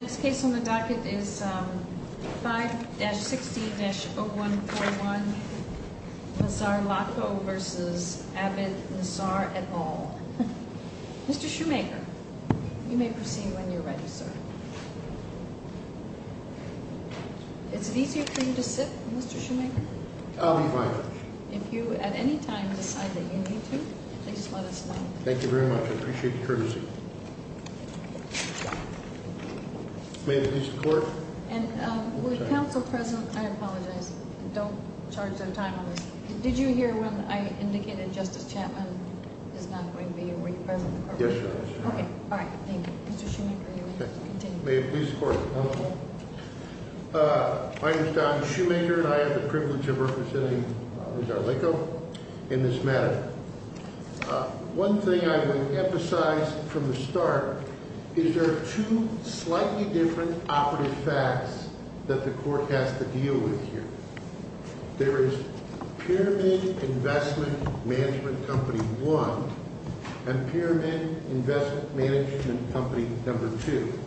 Next case on the docket is 5-60-0141 Nisar Lakho v. Abbott Nisar et al. Mr. Shoemaker, you may proceed when you're ready, sir. Is it easier for you to sit, Mr. Shoemaker? I'll be fine. If you at any time decide that you need to, please let us know. Thank you very much. I appreciate the courtesy. May it please the Court. And with counsel present, I apologize. Don't charge them time on this. Did you hear when I indicated Justice Chapman is not going to be a representative? Yes, Your Honor. Okay. All right. Thank you. Mr. Shoemaker, you may continue. May it please the Court. I'm Don Shoemaker, and I have the privilege of representing Robert Nisar Lakho in this matter. One thing I would emphasize from the start is there are two slightly different operative facts that the Court has to deal with here. There is Pyramid Investment Management Company 1 and Pyramid Investment Management Company No. 2.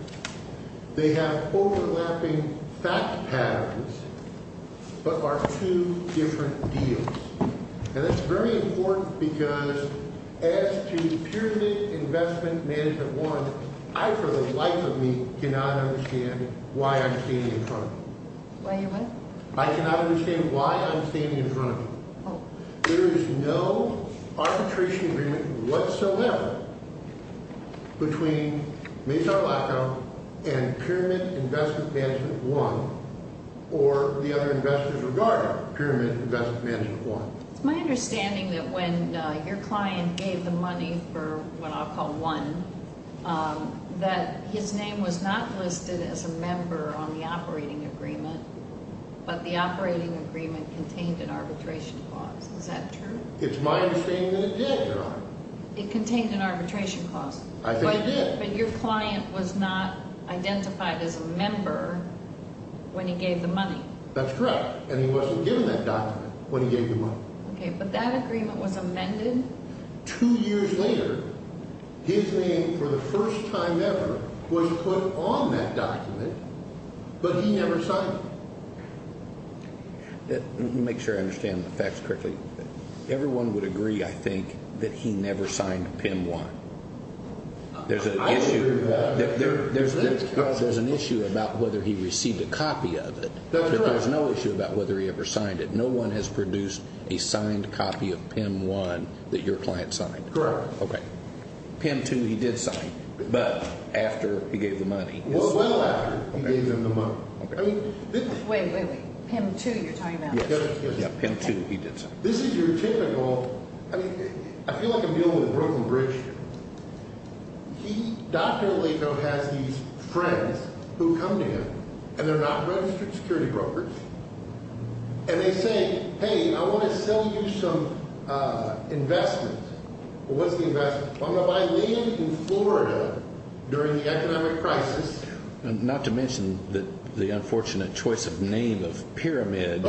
They have overlapping fact patterns but are two different deals. And that's very important because as to Pyramid Investment Management 1, I for the life of me cannot understand why I'm standing in front of it. Why you what? I cannot understand why I'm standing in front of it. There is no arbitration agreement whatsoever between Nisar Lakho and Pyramid Investment Management 1 or the other investors regarding Pyramid Investment Management 1. It's my understanding that when your client gave the money for what I'll call 1, that his name was not listed as a member on the operating agreement, but the operating agreement contained an arbitration clause. Is that true? It's my understanding that it did, Your Honor. It contained an arbitration clause. I think it did. But your client was not identified as a member when he gave the money. That's correct, and he wasn't given that document when he gave the money. Okay, but that agreement was amended. Two years later, his name for the first time ever was put on that document, but he never signed it. Let me make sure I understand the facts correctly. Everyone would agree, I think, that he never signed PIM 1. I agree with that. There's an issue about whether he received a copy of it. There's no issue about whether he ever signed it. No one has produced a signed copy of PIM 1 that your client signed. Correct. Okay. PIM 2 he did sign, but after he gave the money. Well, well after he gave them the money. Wait, wait, wait. PIM 2 you're talking about? Yes, PIM 2 he did sign. This is your typical – I feel like I'm dealing with a broken bridge here. Dr. Alito has these friends who come to him, and they're not registered security brokers. And they say, hey, I want to sell you some investment. What's the investment? I'm going to buy land in Florida during the economic crisis. Not to mention the unfortunate choice of name of Pyramid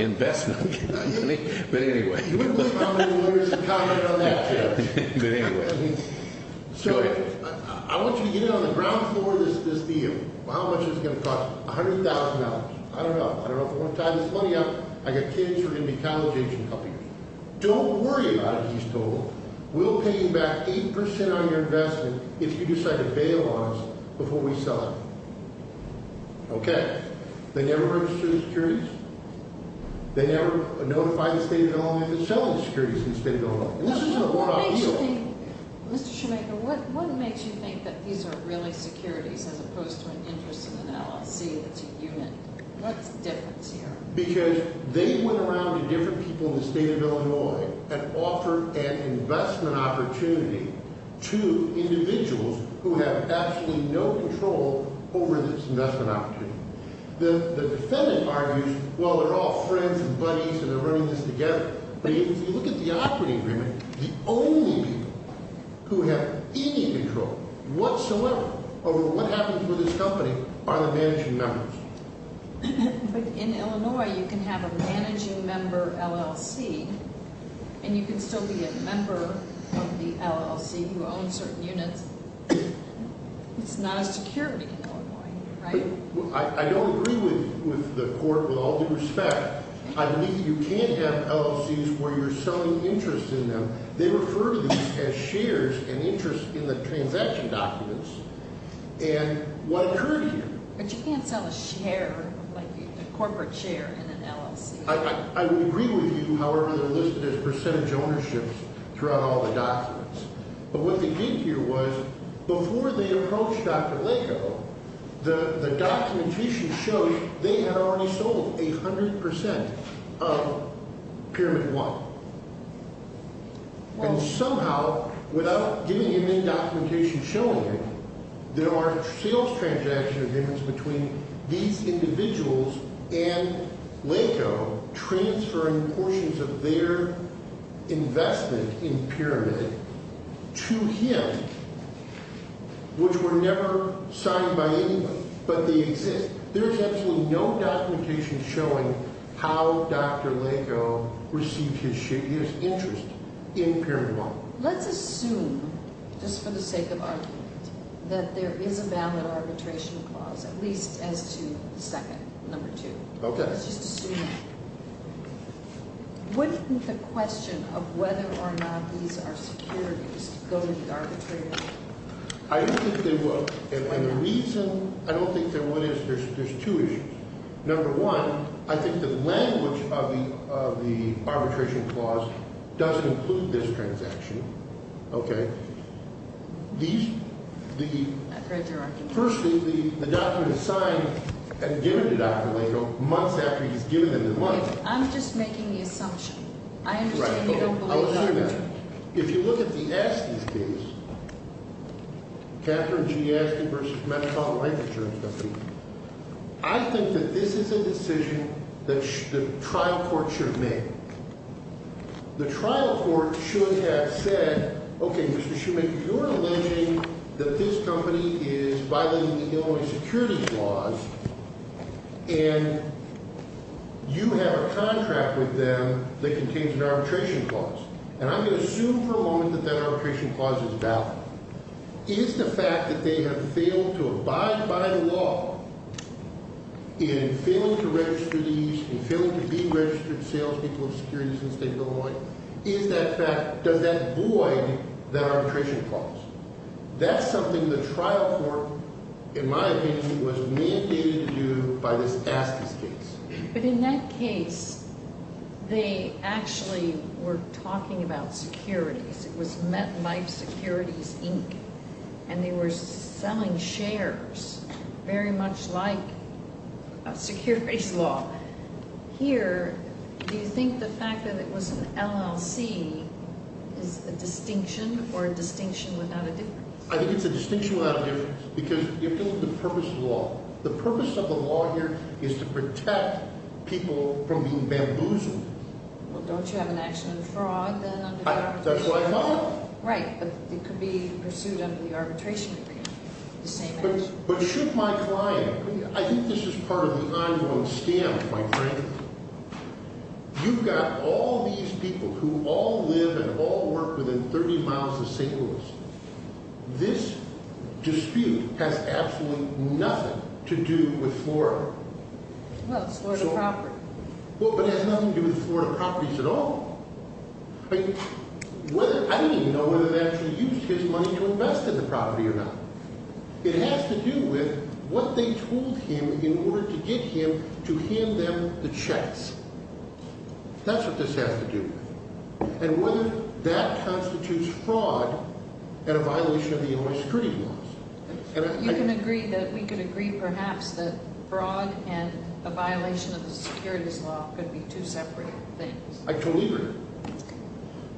Investment. But anyway. You want to respond to the lawyers and comment on that? But anyway. So I want you to get in on the ground floor of this deal. How much is it going to cost? $100,000. I don't know. I don't know if I want to tie this money up. I've got kids who are going to be college-age in a couple years. Don't worry about it, he's told. We'll pay you back 8% on your investment if you decide to bail on us before we sell it. Okay. They never register the securities? They never notify the State of Illinois that they're selling the securities to the State of Illinois? Mr. Shoemaker, what makes you think that these are really securities as opposed to an interest in an LLC that's a unit? What's the difference here? Because they went around to different people in the State of Illinois and offered an investment opportunity to individuals who have absolutely no control over this investment opportunity. The defendant argues, well, they're all friends and buddies and they're running this together. But if you look at the operating agreement, the only people who have any control whatsoever over what happens with this company are the managing members. But in Illinois, you can have a managing member LLC and you can still be a member of the LLC who owns certain units. It's not a security in Illinois, right? I don't agree with the court with all due respect. I believe you can't have LLCs where you're selling interest in them. They refer to these as shares and interest in the transaction documents. And what occurred here? But you can't sell a share, like a corporate share, in an LLC. I would agree with you. However, they're listed as percentage ownerships throughout all the documents. But what they did here was, before they approached Dr. Laco, the documentation shows they had already sold 100% of Pyramid One. And somehow, without giving him any documentation showing him, there are sales transaction agreements between these individuals and Laco transferring portions of their investment in Pyramid to him, which were never signed by anyone, but they exist. There is absolutely no documentation showing how Dr. Laco received his interest in Pyramid One. Let's assume, just for the sake of argument, that there is a valid arbitration clause, at least as to the second, number two. Okay. Let's just assume that. Wouldn't the question of whether or not these are securities go to the arbitrator? I don't think they would. And the reason I don't think they would is there's two issues. Number one, I think the language of the arbitration clause doesn't include this transaction. Okay. These, the, firstly, the document is signed and given to Dr. Laco months after he's given them the money. I'm just making the assumption. I understand you don't believe that. I'll assume that. If you look at the Estes case, Catherine G. Estes v. Metropolitan Life Insurance Company, I think that this is a decision that the trial court should have made. The trial court should have said, okay, Mr. Shuman, you're alleging that this company is violating the Illinois security clause, and you have a contract with them that contains an arbitration clause. And I'm going to assume for a moment that that arbitration clause is valid. Is the fact that they have failed to abide by the law in failing to register these and failing to be registered salespeople of securities in the state of Illinois, is that fact, does that void that arbitration clause? That's something the trial court, in my opinion, was mandated to do by this Estes case. But in that case, they actually were talking about securities. It was MetLife Securities, Inc., and they were selling shares very much like a securities law. Here, do you think the fact that it was an LLC is a distinction or a distinction without a difference? I think it's a distinction without a difference because you're dealing with the purpose of the law. The purpose of the law here is to protect people from being bamboozled. Well, don't you have an action of fraud then? That's what I thought. Right, but it could be pursued under the arbitration agreement, the same action. But should my client, I think this is part of the ongoing scam, quite frankly. You've got all these people who all live and all work within 30 miles of St. Louis. This dispute has absolutely nothing to do with Florida. Well, it's Florida property. Well, but it has nothing to do with Florida properties at all. I don't even know whether they actually used his money to invest in the property or not. It has to do with what they told him in order to get him to hand them the checks. That's what this has to do with. And whether that constitutes fraud and a violation of the Illinois securities laws. You can agree that we can agree perhaps that fraud and a violation of the securities law could be two separate things. I totally agree.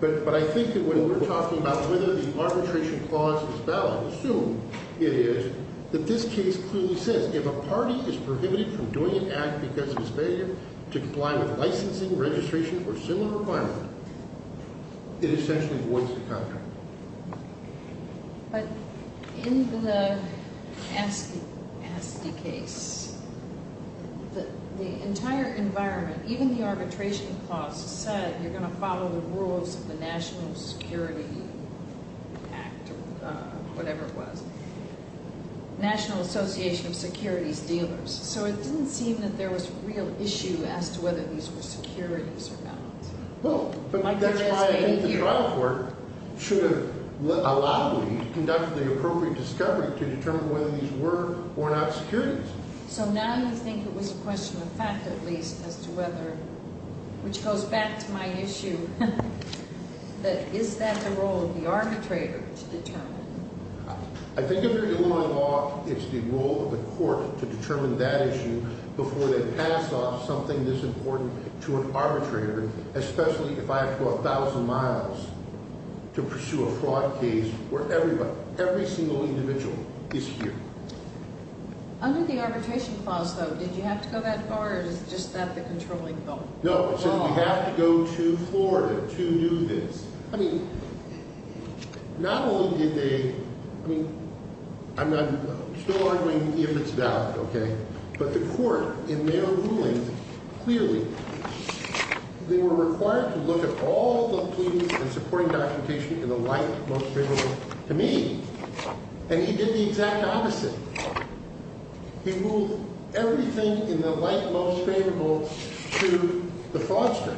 But I think that when we're talking about whether the arbitration clause is valid, assume it is, that this case clearly says if a party is prohibited from doing an act because of its failure to comply with licensing, registration, or similar requirements, it essentially voids the contract. But in the Asti case, the entire environment, even the arbitration clause, said you're going to follow the rules of the National Security Act or whatever it was. National Association of Securities Dealers. So it didn't seem that there was real issue as to whether these were securities or not. Well, but that's why I think the trial court should have allowed me to conduct the appropriate discovery to determine whether these were or not securities. So now you think it was a question of fact at least as to whether, which goes back to my issue, that is that the role of the arbitrator to determine? I think if you're in law, it's the role of the court to determine that issue before they pass off something this important to an arbitrator, especially if I have to go 1,000 miles to pursue a fraud case where everybody, every single individual is here. Under the arbitration clause, though, did you have to go that far or is just that the controlling thought? No, it says we have to go to Florida to do this. I mean, not only did they, I mean, I'm not still arguing if it's valid, okay, but the court in their ruling clearly, they were required to look at all the clues and supporting documentation in the light most favorable to me. And he did the exact opposite. He moved everything in the light most favorable to the fraudster.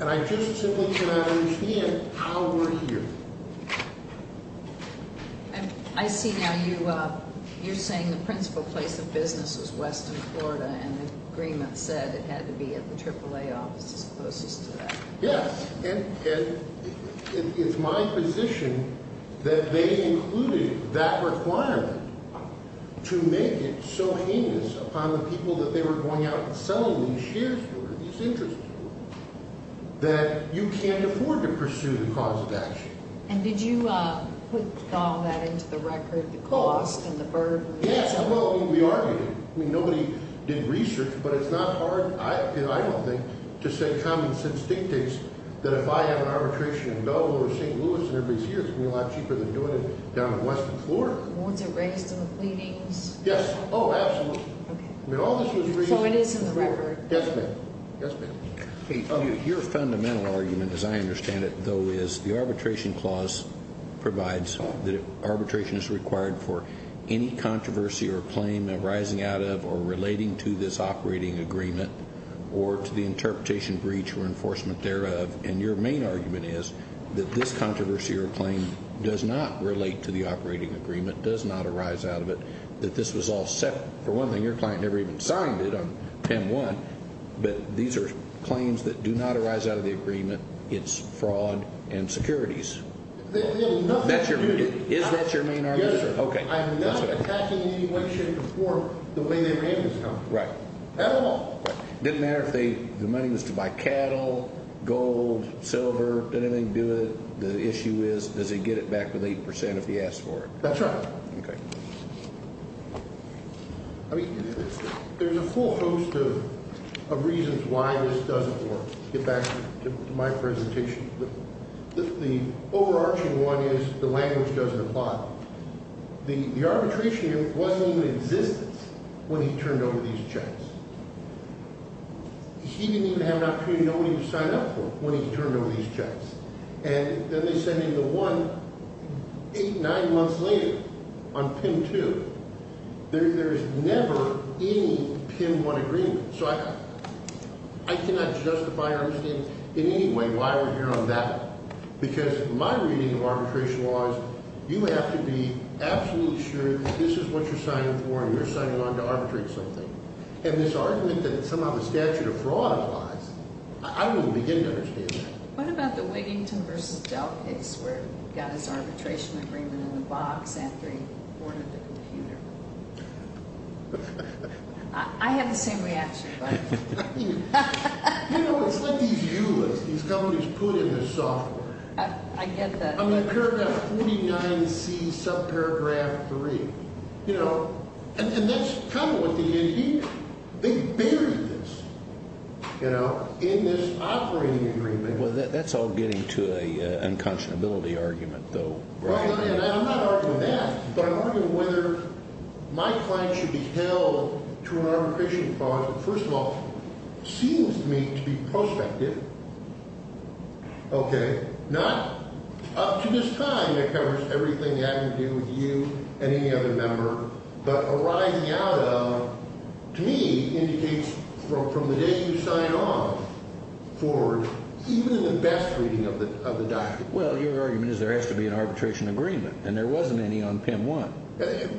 And I just simply cannot understand how we're here. I see now you're saying the principal place of business is western Florida and the agreement said it had to be at the AAA office as opposed to that. Yes, and it's my position that they included that requirement to make it so heinous upon the people that they were going out and selling these shares for, these interests for, that you can't afford to pursue the cause of action. And did you put all that into the record, the cost and the burden? Yes, well, we argued it. I mean, nobody did research, but it's not hard, I don't think, to say common sense dictates that if I have an arbitration in Belvoir or St. Louis and everybody's here, it's going to be a lot cheaper than doing it down in western Florida. Was it raised in the pleadings? Yes. Oh, absolutely. Okay. I mean, all this was raised in Florida. Yes, ma'am. Yes, ma'am. Your fundamental argument, as I understand it, though, is the arbitration clause provides that arbitration is required for any controversy or claim arising out of or relating to this operating agreement or to the interpretation, breach, or enforcement thereof. And your main argument is that this controversy or claim does not relate to the operating agreement, does not arise out of it, that this was all set. For one thing, your client never even signed it on 10-1. But these are claims that do not arise out of the agreement. It's fraud and securities. They have nothing to do with it. Is that your main argument? Yes, sir. Okay. I'm not attacking any way, shape, or form the way they were able to come. Right. At all. It didn't matter if the money was to buy cattle, gold, silver, did anything do it? The issue is, does he get it back with 8% if he asks for it? That's right. Okay. I mean, there's a full host of reasons why this doesn't work. Get back to my presentation. The overarching one is the language doesn't apply. The arbitration wasn't even in existence when he turned over these checks. He didn't even have an opportunity to know what he would sign up for when he turned over these checks. And then they send him the one eight, nine months later on PIN 2. There is never any PIN 1 agreement. So I cannot justify or understand in any way why we're here on that. Because my reading of arbitration law is you have to be absolutely sure that this is what you're signing for and you're signing on to arbitrate something. And this argument that somehow the statute of fraud applies, I don't even begin to understand that. What about the Wiggington versus Dell case where he got his arbitration agreement in the box after he boarded the computer? I had the same reaction. You know, it's like these ULAs, these companies put in the software. I get that. I mean, paragraph 49C, subparagraph 3. You know, and that's kind of what they did. They buried this, you know, in this operating agreement. Well, that's all getting to an unconscionability argument, though, right? Well, I'm not arguing that, but I'm arguing whether my client should be held to an arbitration clause that, first of all, seems to me to be prospective. Okay. Not up to this time that covers everything having to do with you and any other member, but arising out of, to me, indicates from the day you sign on forward, even in the best reading of the document. Well, your argument is there has to be an arbitration agreement, and there wasn't any on PIM 1.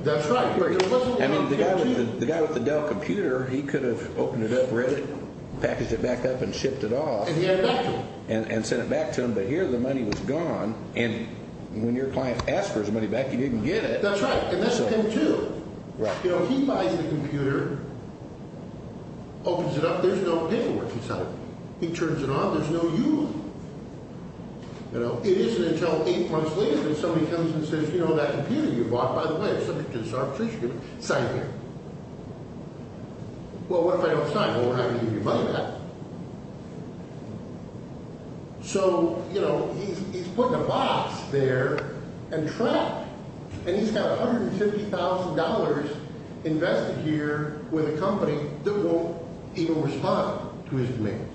That's right. There wasn't one on PIM 2. I mean, the guy with the Dell computer, he could have opened it up, read it, packaged it back up, and shipped it off. And he had it back to him. And sent it back to him, but here the money was gone, and when your client asked for his money back, he didn't get it. That's right, and that's him, too. Right. You know, he buys the computer, opens it up. There's no paperwork inside. He turns it on. There's no ULA. You know, it isn't until eight months later that somebody comes and says, you know, that computer you bought, by the way, is subject to this arbitration agreement. Sign it here. Well, what if I don't sign? Well, we're not going to give you your money back. So, you know, he's putting a box there and trapped, and he's got $150,000 invested here with a company that won't even respond to his demands.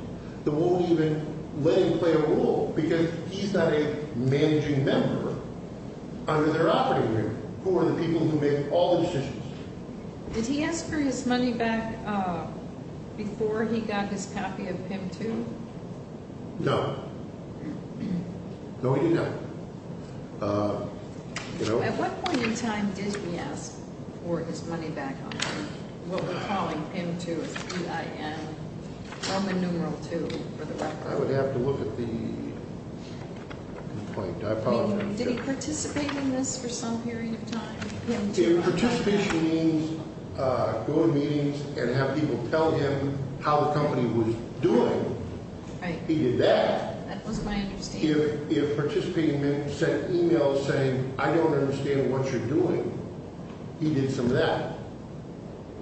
That won't even let him play a role because he's not a managing member under their operating room who are the people who make all the decisions. Did he ask for his money back before he got this copy of PIM-2? No. No, he did not. You know? At what point in time did he ask for his money back on what we're calling PIM-2, P-I-M, Roman numeral 2, for the record? I would have to look at the complaint. I apologize. Did he participate in this for some period of time? Participation means going to meetings and have people tell him how the company was doing. Right. He did that. That was my understanding. If participating men sent emails saying, I don't understand what you're doing, he did some of that.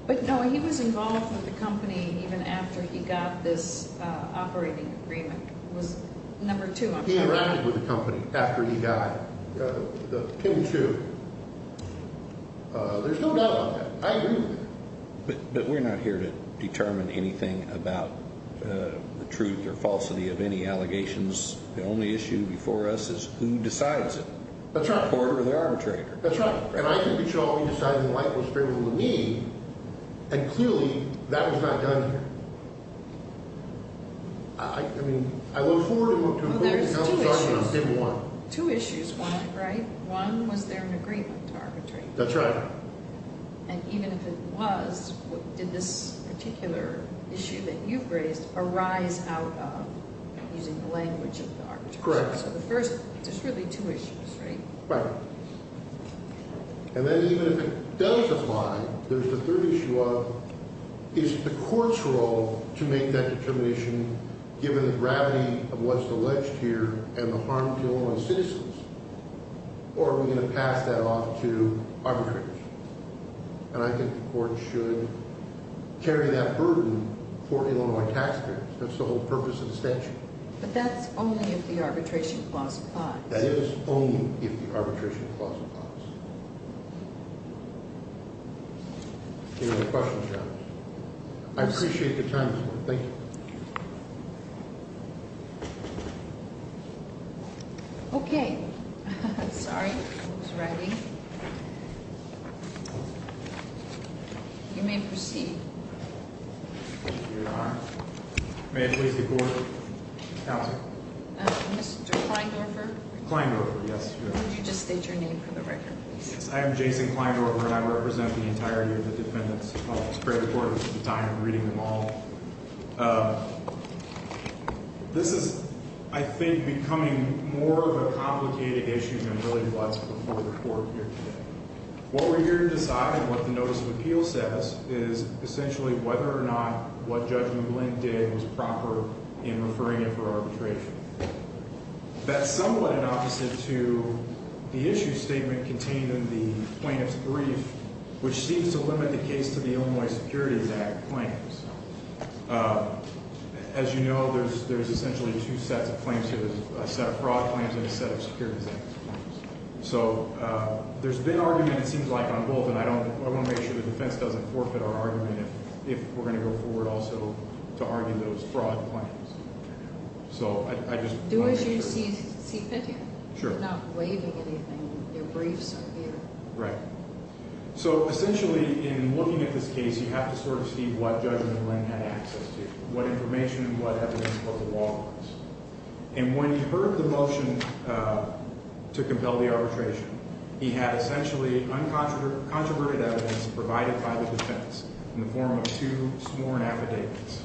But, no, he was involved with the company even after he got this operating agreement. It was number two, I'm sure. He interacted with the company after he got the PIM-2. There's no doubt about that. I agree with that. But we're not here to determine anything about the truth or falsity of any allegations. The only issue before us is who decides it. That's right. The court or the arbitrator. That's right. And I can be sure all he decided in light was strictly with me. And, clearly, that was not done here. I mean, I look forward to him going to court and I'll be talking about PIM-1. Well, there's two issues. Two issues, right? One, was there an agreement to arbitrate? That's right. And even if it was, did this particular issue that you've raised arise out of using the language of the arbitrator? Correct. So the first, there's really two issues, right? Right. And then even if it does apply, there's the third issue of, is the court's role to make that determination given the gravity of what's alleged here and the harm to Illinois citizens? Or are we going to pass that off to arbitrators? And I think the court should carry that burden for Illinois taxpayers. That's the whole purpose of the statute. But that's only if the arbitration clause applies. That is only if the arbitration clause applies. Any other questions, Your Honor? I appreciate your time this morning. Thank you. Okay. Sorry, I was writing. You may proceed. Thank you, Your Honor. May I please be recorded? Counsel. Mr. Kleindorfer? Kleindorfer, yes. Could you just state your name for the record, please? I am Jason Kleindorfer, and I represent the entirety of the defendants' office. Great report. This is the time I'm reading them all. This is, I think, becoming more of a complicated issue than it really was before the court appeared today. What we're here to decide and what the notice of appeal says is essentially whether or not what Judge McGlynn did was proper in referring it for arbitration. That's somewhat an opposite to the issue statement contained in the plaintiff's brief, which seems to limit the case to the Illinois Securities Act claims. As you know, there's essentially two sets of claims here, a set of fraud claims and a set of Securities Act claims. So there's been argument, it seems like, on both, and I want to make sure the defense doesn't forfeit our argument if we're going to go forward also to argue those fraud claims. Do as you see fit here. Sure. We're not waiving anything. Your briefs are here. Right. So essentially, in looking at this case, you have to sort of see what Judge McGlynn had access to, what information, what evidence, what the law was. And when he heard the motion to compel the arbitration, he had essentially uncontroverted evidence provided by the defense in the form of two sworn affidavits.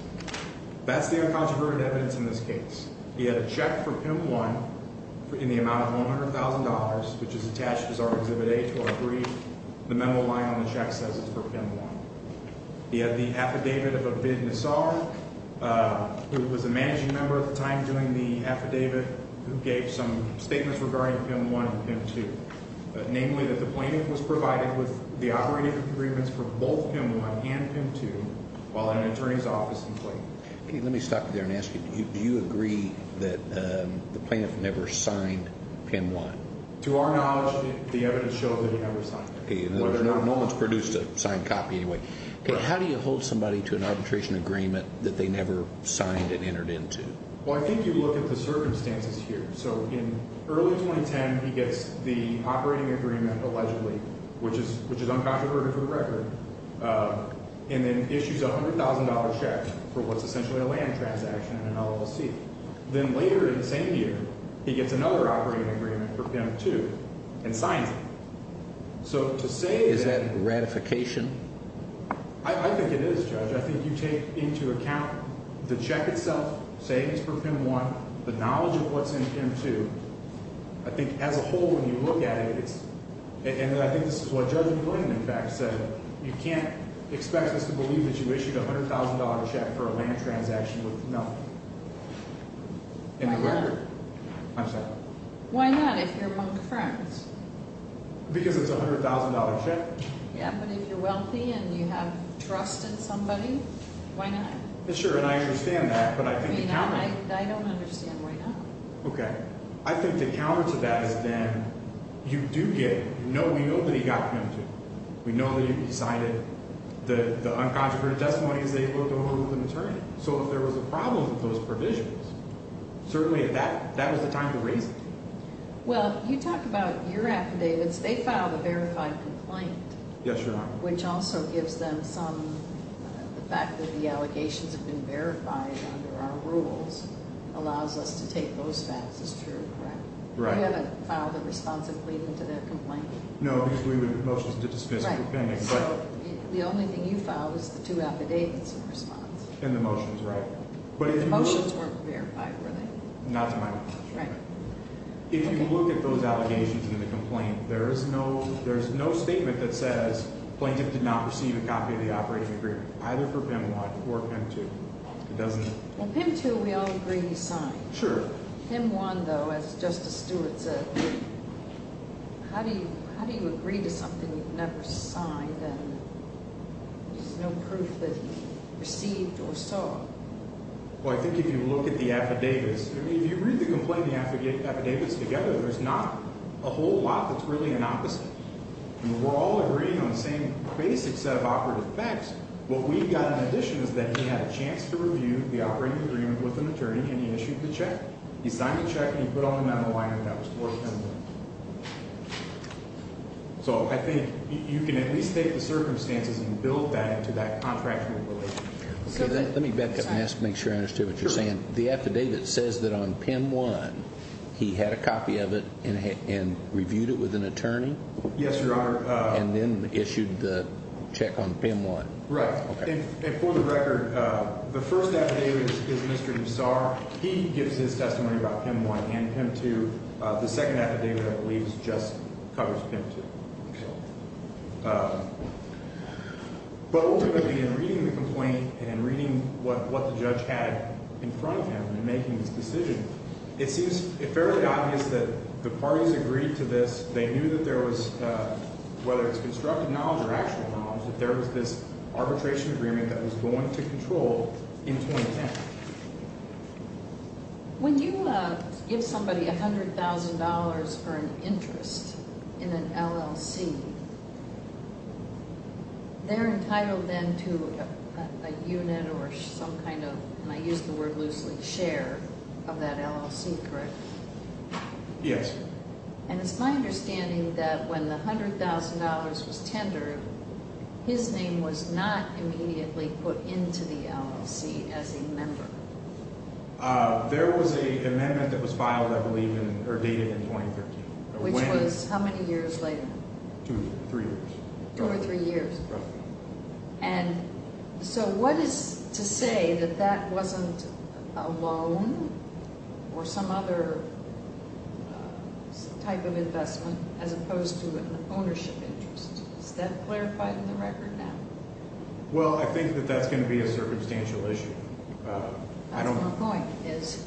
That's the uncontroverted evidence in this case. He had a check for PIM 1 in the amount of $100,000, which is attached as our Exhibit A to our brief. The memo lying on the check says it's for PIM 1. He had the affidavit of Abid Nassar, who was a managing member at the time doing the affidavit, who gave some statements regarding PIM 1 and PIM 2, namely that the plaintiff was provided with the operating agreements for both PIM 1 and PIM 2 while in an attorney's office in Clayton. Okay. Let me stop you there and ask you, do you agree that the plaintiff never signed PIM 1? To our knowledge, the evidence shows that he never signed it. Okay. No one's produced a signed copy anyway. How do you hold somebody to an arbitration agreement that they never signed and entered into? Well, I think you look at the circumstances here. So in early 2010, he gets the operating agreement allegedly, which is uncontroverted for the record, and then issues a $100,000 check for what's essentially a land transaction in an LLC. Then later in the same year, he gets another operating agreement for PIM 2 and signs it. So to say that – Is that ratification? I think it is, Judge. I think you take into account the check itself, savings for PIM 1, the knowledge of what's in PIM 2. I think as a whole, when you look at it, it's – and I think this is what Judge McWilliam, in fact, said. You can't expect us to believe that you issued a $100,000 check for a land transaction with – no. Why not? I'm sorry. Why not if you're among friends? Because it's a $100,000 check. Yeah, but if you're wealthy and you have trust in somebody, why not? Sure, and I understand that, but I think the counter – I mean, I don't understand why not. Okay. I think the counter to that is then you do get – we know that he got PIM 2. We know that he signed it. The uncontroverted testimony is able to hold him to an attorney. So if there was a problem with those provisions, certainly that was the time to raise it. Well, you talk about your affidavits. They filed a verified complaint. Yes, Your Honor. Which also gives them some – the fact that the allegations have been verified under our rules allows us to take those facts as true, correct? Right. You haven't filed a responsive plea into that complaint? No, because we would have motions to dismiss it. Right. So the only thing you filed was the two affidavits in response. In the motions, right. But the motions weren't verified, were they? Not to my knowledge. Right. If you look at those allegations in the complaint, there is no statement that says plaintiff did not receive a copy of the operating agreement, either for PIM 1 or PIM 2. It doesn't – Well, PIM 2 we all agree he signed. Sure. PIM 1, though, as Justice Stewart said, how do you agree to something you've never signed and there's no proof that he received or saw? Well, I think if you look at the affidavits – I mean, if you read the complaint and the affidavits together, there's not a whole lot that's really an opposite. I mean, we're all agreeing on the same basic set of operative facts. What we've got in addition is that he had a chance to review the operating agreement with an attorney, and he issued the check. He signed the check, and he put all the memo on it, and that was PIM 1. So I think you can at least take the circumstances and build that into that contractual relationship. Let me back up and make sure I understand what you're saying. Sure. The affidavit says that on PIM 1 he had a copy of it and reviewed it with an attorney? Yes, Your Honor. And then issued the check on PIM 1. Right. Okay. And for the record, the first affidavit is Mr. Nassar. He gives his testimony about PIM 1 and PIM 2. The second affidavit, I believe, just covers PIM 2. But ultimately, in reading the complaint and reading what the judge had in front of him in making this decision, it seems fairly obvious that the parties agreed to this. They knew that there was, whether it's constructive knowledge or actual knowledge, that there was this arbitration agreement that was going to control in 2010. When you give somebody $100,000 for an interest in an LLC, they're entitled then to a unit or some kind of, and I use the word loosely, share of that LLC, correct? Yes. And it's my understanding that when the $100,000 was tendered, his name was not immediately put into the LLC as a member. There was an amendment that was filed, I believe, or dated in 2013. Which was how many years later? Two or three years. Two or three years. Roughly. And so what is to say that that wasn't a loan or some other type of investment as opposed to an ownership interest? Is that clarified in the record now? Well, I think that that's going to be a circumstantial issue. That's my point, is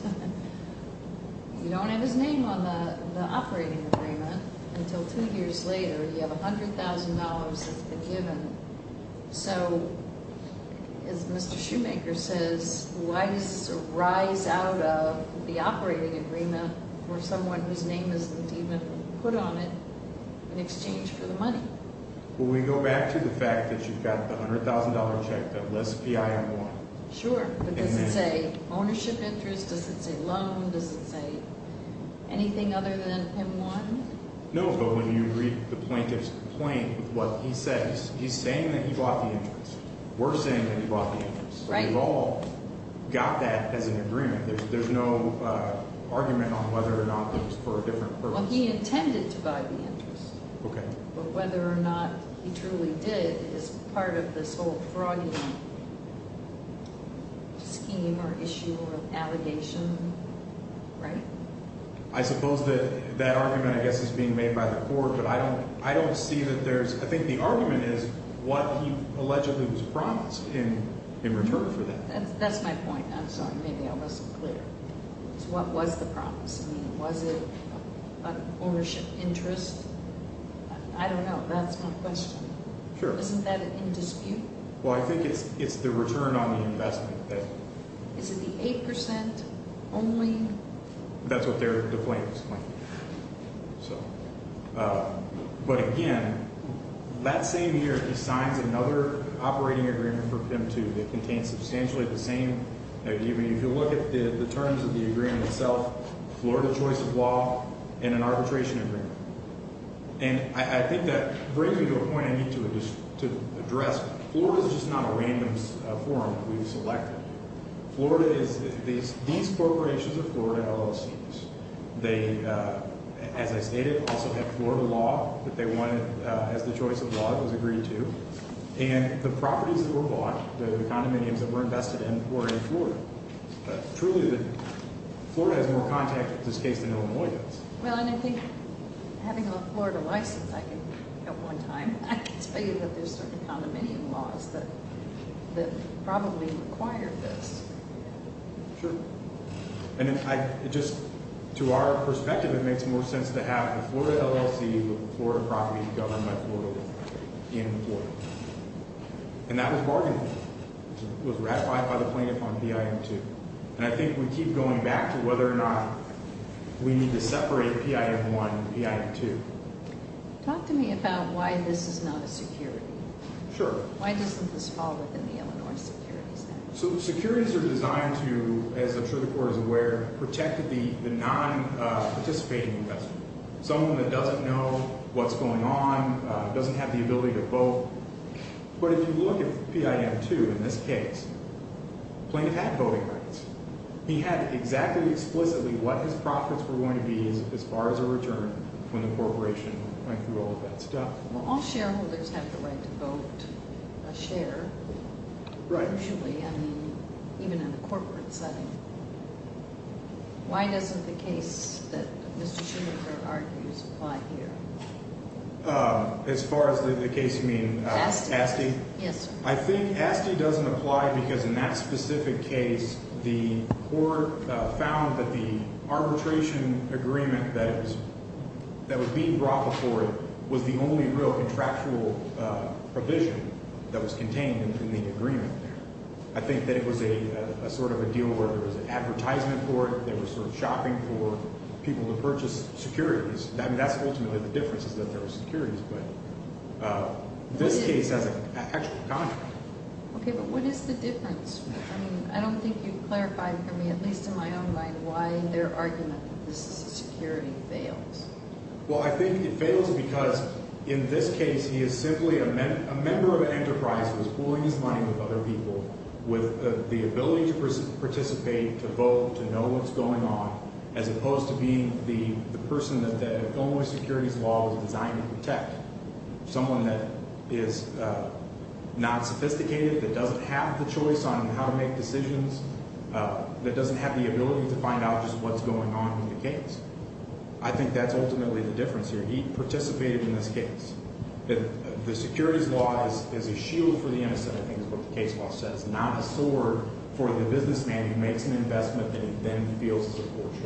you don't have his name on the operating agreement until two years later. You have $100,000 that's been given. So, as Mr. Shoemaker says, why does it rise out of the operating agreement for someone whose name isn't even put on it in exchange for the money? Well, we go back to the fact that you've got the $100,000 check that lists PI and 1. Sure. But does it say ownership interest? Does it say loan? Does it say anything other than M1? No, but when you read the plaintiff's complaint with what he says, he's saying that he bought the interest. We're saying that he bought the interest. Right. We've all got that as an agreement. There's no argument on whether or not it was for a different purpose. Well, he intended to buy the interest. Okay. But whether or not he truly did is part of this whole fraudulent scheme or issue or allegation, right? I suppose that that argument, I guess, is being made by the court, but I don't see that there's – I think the argument is what he allegedly was promised in return for that. That's my point. I'm sorry. Maybe I wasn't clear. What was the promise? Was it ownership interest? I don't know. That's my question. Sure. Isn't that in dispute? Well, I think it's the return on the investment. Is it the 8% only? That's what the plaintiff's complaint is. But, again, that same year he signs another operating agreement for PIM 2 that contains substantially the same. If you look at the terms of the agreement itself, Florida choice of law and an arbitration agreement. And I think that brings me to a point I need to address. Florida is just not a random forum that we've selected. Florida is – these corporations are Florida LLCs. They, as I stated, also have Florida law that they wanted as the choice of law that was agreed to. And the properties that were bought, the condominiums that were invested in, were in Florida. Truly, Florida has more contact with this case than Illinois does. Well, and I think having a Florida license, I can at one time, I can say that there's certain condominium laws that probably require this. Sure. And just to our perspective, it makes more sense to have a Florida LLC with Florida properties governed by Florida law in Florida. And that was bargained for. It was ratified by the plaintiff on PIM 2. And I think we keep going back to whether or not we need to separate PIM 1 and PIM 2. Talk to me about why this is not a security. Sure. Why doesn't this fall within the Illinois security standards? So securities are designed to, as I'm sure the Court is aware, protect the non-participating investor, someone that doesn't know what's going on, doesn't have the ability to vote. But if you look at PIM 2 in this case, the plaintiff had voting rights. He had exactly, explicitly what his profits were going to be as far as a return when the corporation went through all of that stuff. Well, all shareholders have the right to vote, a share. Right. Usually, I mean, even in a corporate setting. Why doesn't the case that Mr. Schumacher argues apply here? As far as the case you mean? Asti. Asti? Yes, sir. I think Asti doesn't apply because in that specific case the Court found that the arbitration agreement that was being brought before it was the only real contractual provision that was contained in the agreement. I think that it was a sort of a deal where there was an advertisement for it, they were sort of shopping for people to purchase securities. I mean, that's ultimately the difference is that there were securities. This case has an actual contract. Okay, but what is the difference? I mean, I don't think you've clarified for me, at least in my own mind, why their argument that this is a security fails. Well, I think it fails because in this case he is simply a member of an enterprise who is pooling his money with other people with the ability to participate, to vote, to know what's going on, as opposed to being the person that the Illinois securities law was designed to protect, someone that is not sophisticated, that doesn't have the choice on how to make decisions, that doesn't have the ability to find out just what's going on in the case. I think that's ultimately the difference here. He participated in this case. The securities law is a shield for the innocent, I think is what the case law says, not a sword for the businessman who makes an investment and then feels it's a poor choice.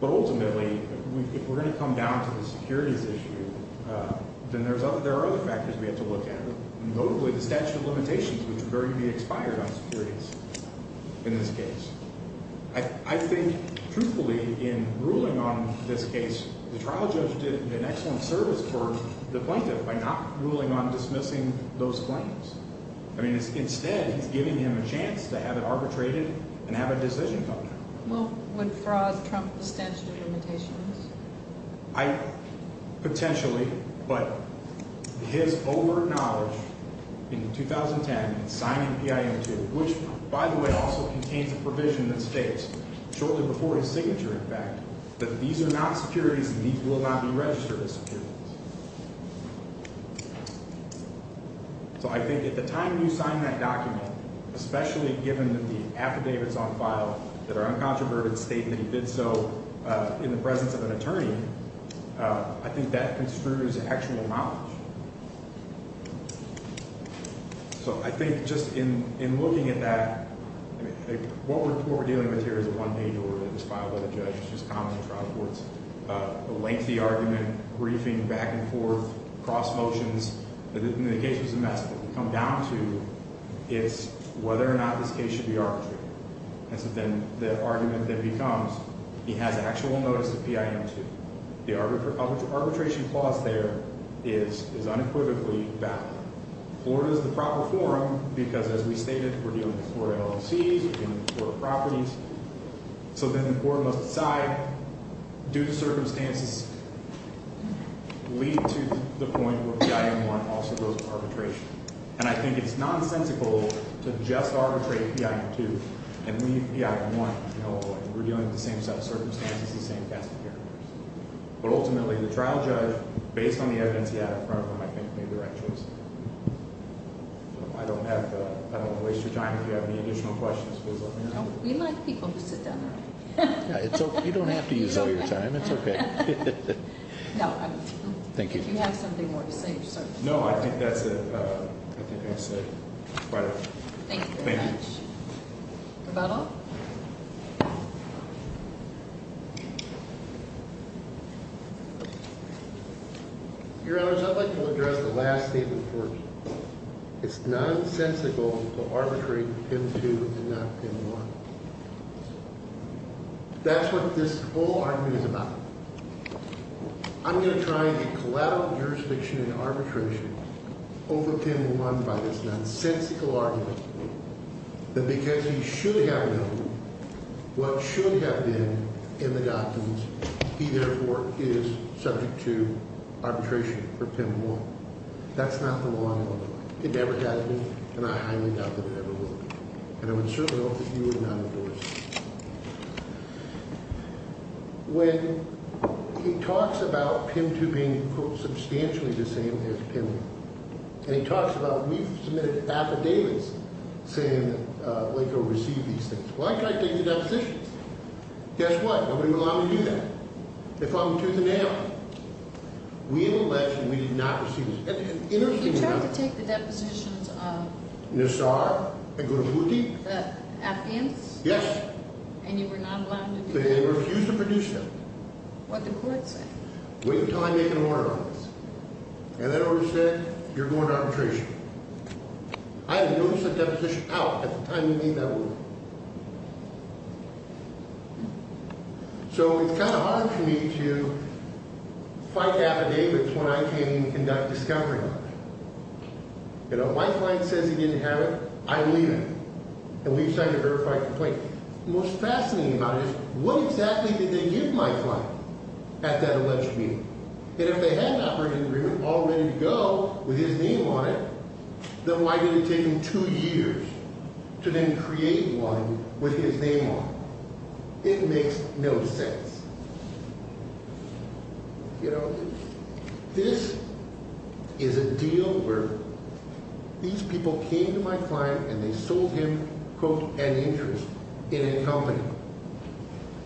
But ultimately, if we're going to come down to the securities issue, then there are other factors we have to look at, notably the statute of limitations, which is going to be expired on securities in this case. I think, truthfully, in ruling on this case, the trial judge did an excellent service for the plaintiff by not ruling on dismissing those claims. I mean, instead, he's giving him a chance to have it arbitrated and have a decision come down. Well, would fraud trump the statute of limitations? Potentially, but his overt knowledge in 2010 in signing PIM 2, which, by the way, also contains a provision that states, shortly before his signature, in fact, that these are not securities and these will not be registered as securities. So I think at the time you sign that document, especially given that the affidavit's on file, that our uncontroverted statement he did so in the presence of an attorney, I think that construes actual knowledge. So I think just in looking at that, what we're dealing with here is a one-page order that is filed by the judge, which is common in trial courts, a lengthy argument, briefing back and forth, cross motions. In the case of Zemeckis, what we come down to is whether or not this case should be arbitrated. And so then the argument then becomes, he has actual notice of PIM 2. The arbitration clause there is unequivocally valid. Florida is the proper forum because, as we stated, we're dealing with Florida LLCs, we're dealing with Florida properties. So then the court must decide, do the circumstances lead to the point where PIM 1 also goes to arbitration? And I think it's nonsensical to just arbitrate PIM 2 and leave PIM 1. We're dealing with the same set of circumstances, the same cast of characters. But ultimately, the trial judge, based on the evidence he had in front of him, I think made the right choice. I don't want to waste your time. If you have any additional questions, please let me know. No, we like people who sit down. You don't have to use all your time. It's okay. No, I don't think so. Thank you. If you have something more to say, just start. I think that's it. Thank you very much. Thank you. Your Honor, I'd like to address the last statement first. It's nonsensical to arbitrate PIM 2 and not PIM 1. That's what this whole argument is about. I'm going to try a collateral jurisdiction in arbitration over PIM 1 by this nonsensical argument that because he should have known what should have been in the doctrines, he therefore is subject to arbitration for PIM 1. That's not the law. It never has been, and I highly doubt that it ever will be. And I would certainly hope that you would not endorse it. When he talks about PIM 2 being, quote, substantially the same as PIM 1, and he talks about we've submitted affidavits saying that LACOE received these things. Well, I can't take the depositions. Guess what? Nobody would allow me to do that. They found me tooth and nail. We in the election, we did not receive these. You tried to take the depositions of? Nassar and Gurabuti. The Afghans? Yes. And you were not allowed to do that? They refused to produce them. What did the court say? Wait until I make an order on this. And that order said you're going to arbitration. I had no such deposition out at the time we made that order. So it's kind of hard for me to fight affidavits when I can't even conduct discovery work. You know, my client says he didn't have it. I believe him. And we decided to verify a complaint. Most fascinating about it is what exactly did they give my client at that election meeting? And if they had an operating agreement all ready to go with his name on it, then why did it take him two years to then create one with his name on it? It makes no sense. You know, this is a deal where these people came to my client and they sold him, quote, an interest in a company.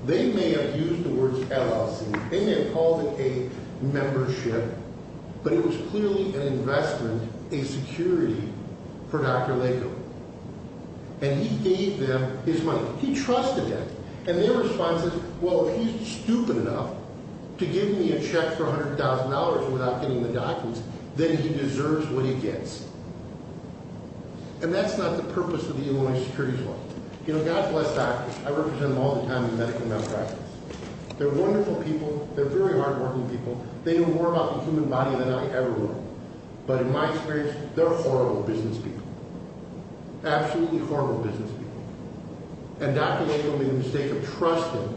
They may have used the words LLC. They may have called it a membership. But it was clearly an investment, a security for Dr. Laco. And he gave them his money. He trusted him. And their response is, well, if he's stupid enough to give me a check for $100,000 without getting the documents, then he deserves what he gets. And that's not the purpose of the Illinois Securities Law. You know, God bless doctors. I represent them all the time in medical malpractice. They're wonderful people. They're very hardworking people. They know more about the human body than I ever will. But in my experience, they're horrible business people. Absolutely horrible business people. And Dr. Laco made the mistake of trusting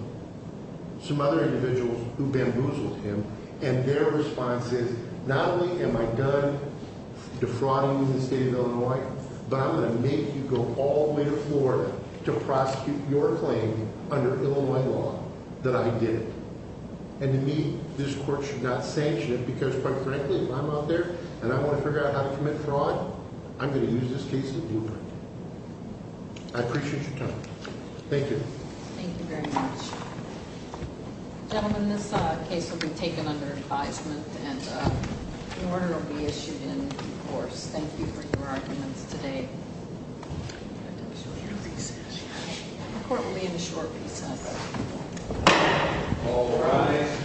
some other individuals who bamboozled him. And their response is, not only am I done defrauding you in the state of Illinois, but I'm going to make you go all the way to Florida to prosecute your claim under Illinois law that I did. And to me, this court should not sanction it because, quite frankly, if I'm out there and I want to figure out how to commit fraud, I'm going to use this case to do that. I appreciate your time. Thank you. Thank you very much. Gentlemen, this case will be taken under advisement and an order will be issued in due course. Thank you for your arguments today. The court will be in a short recess. All rise.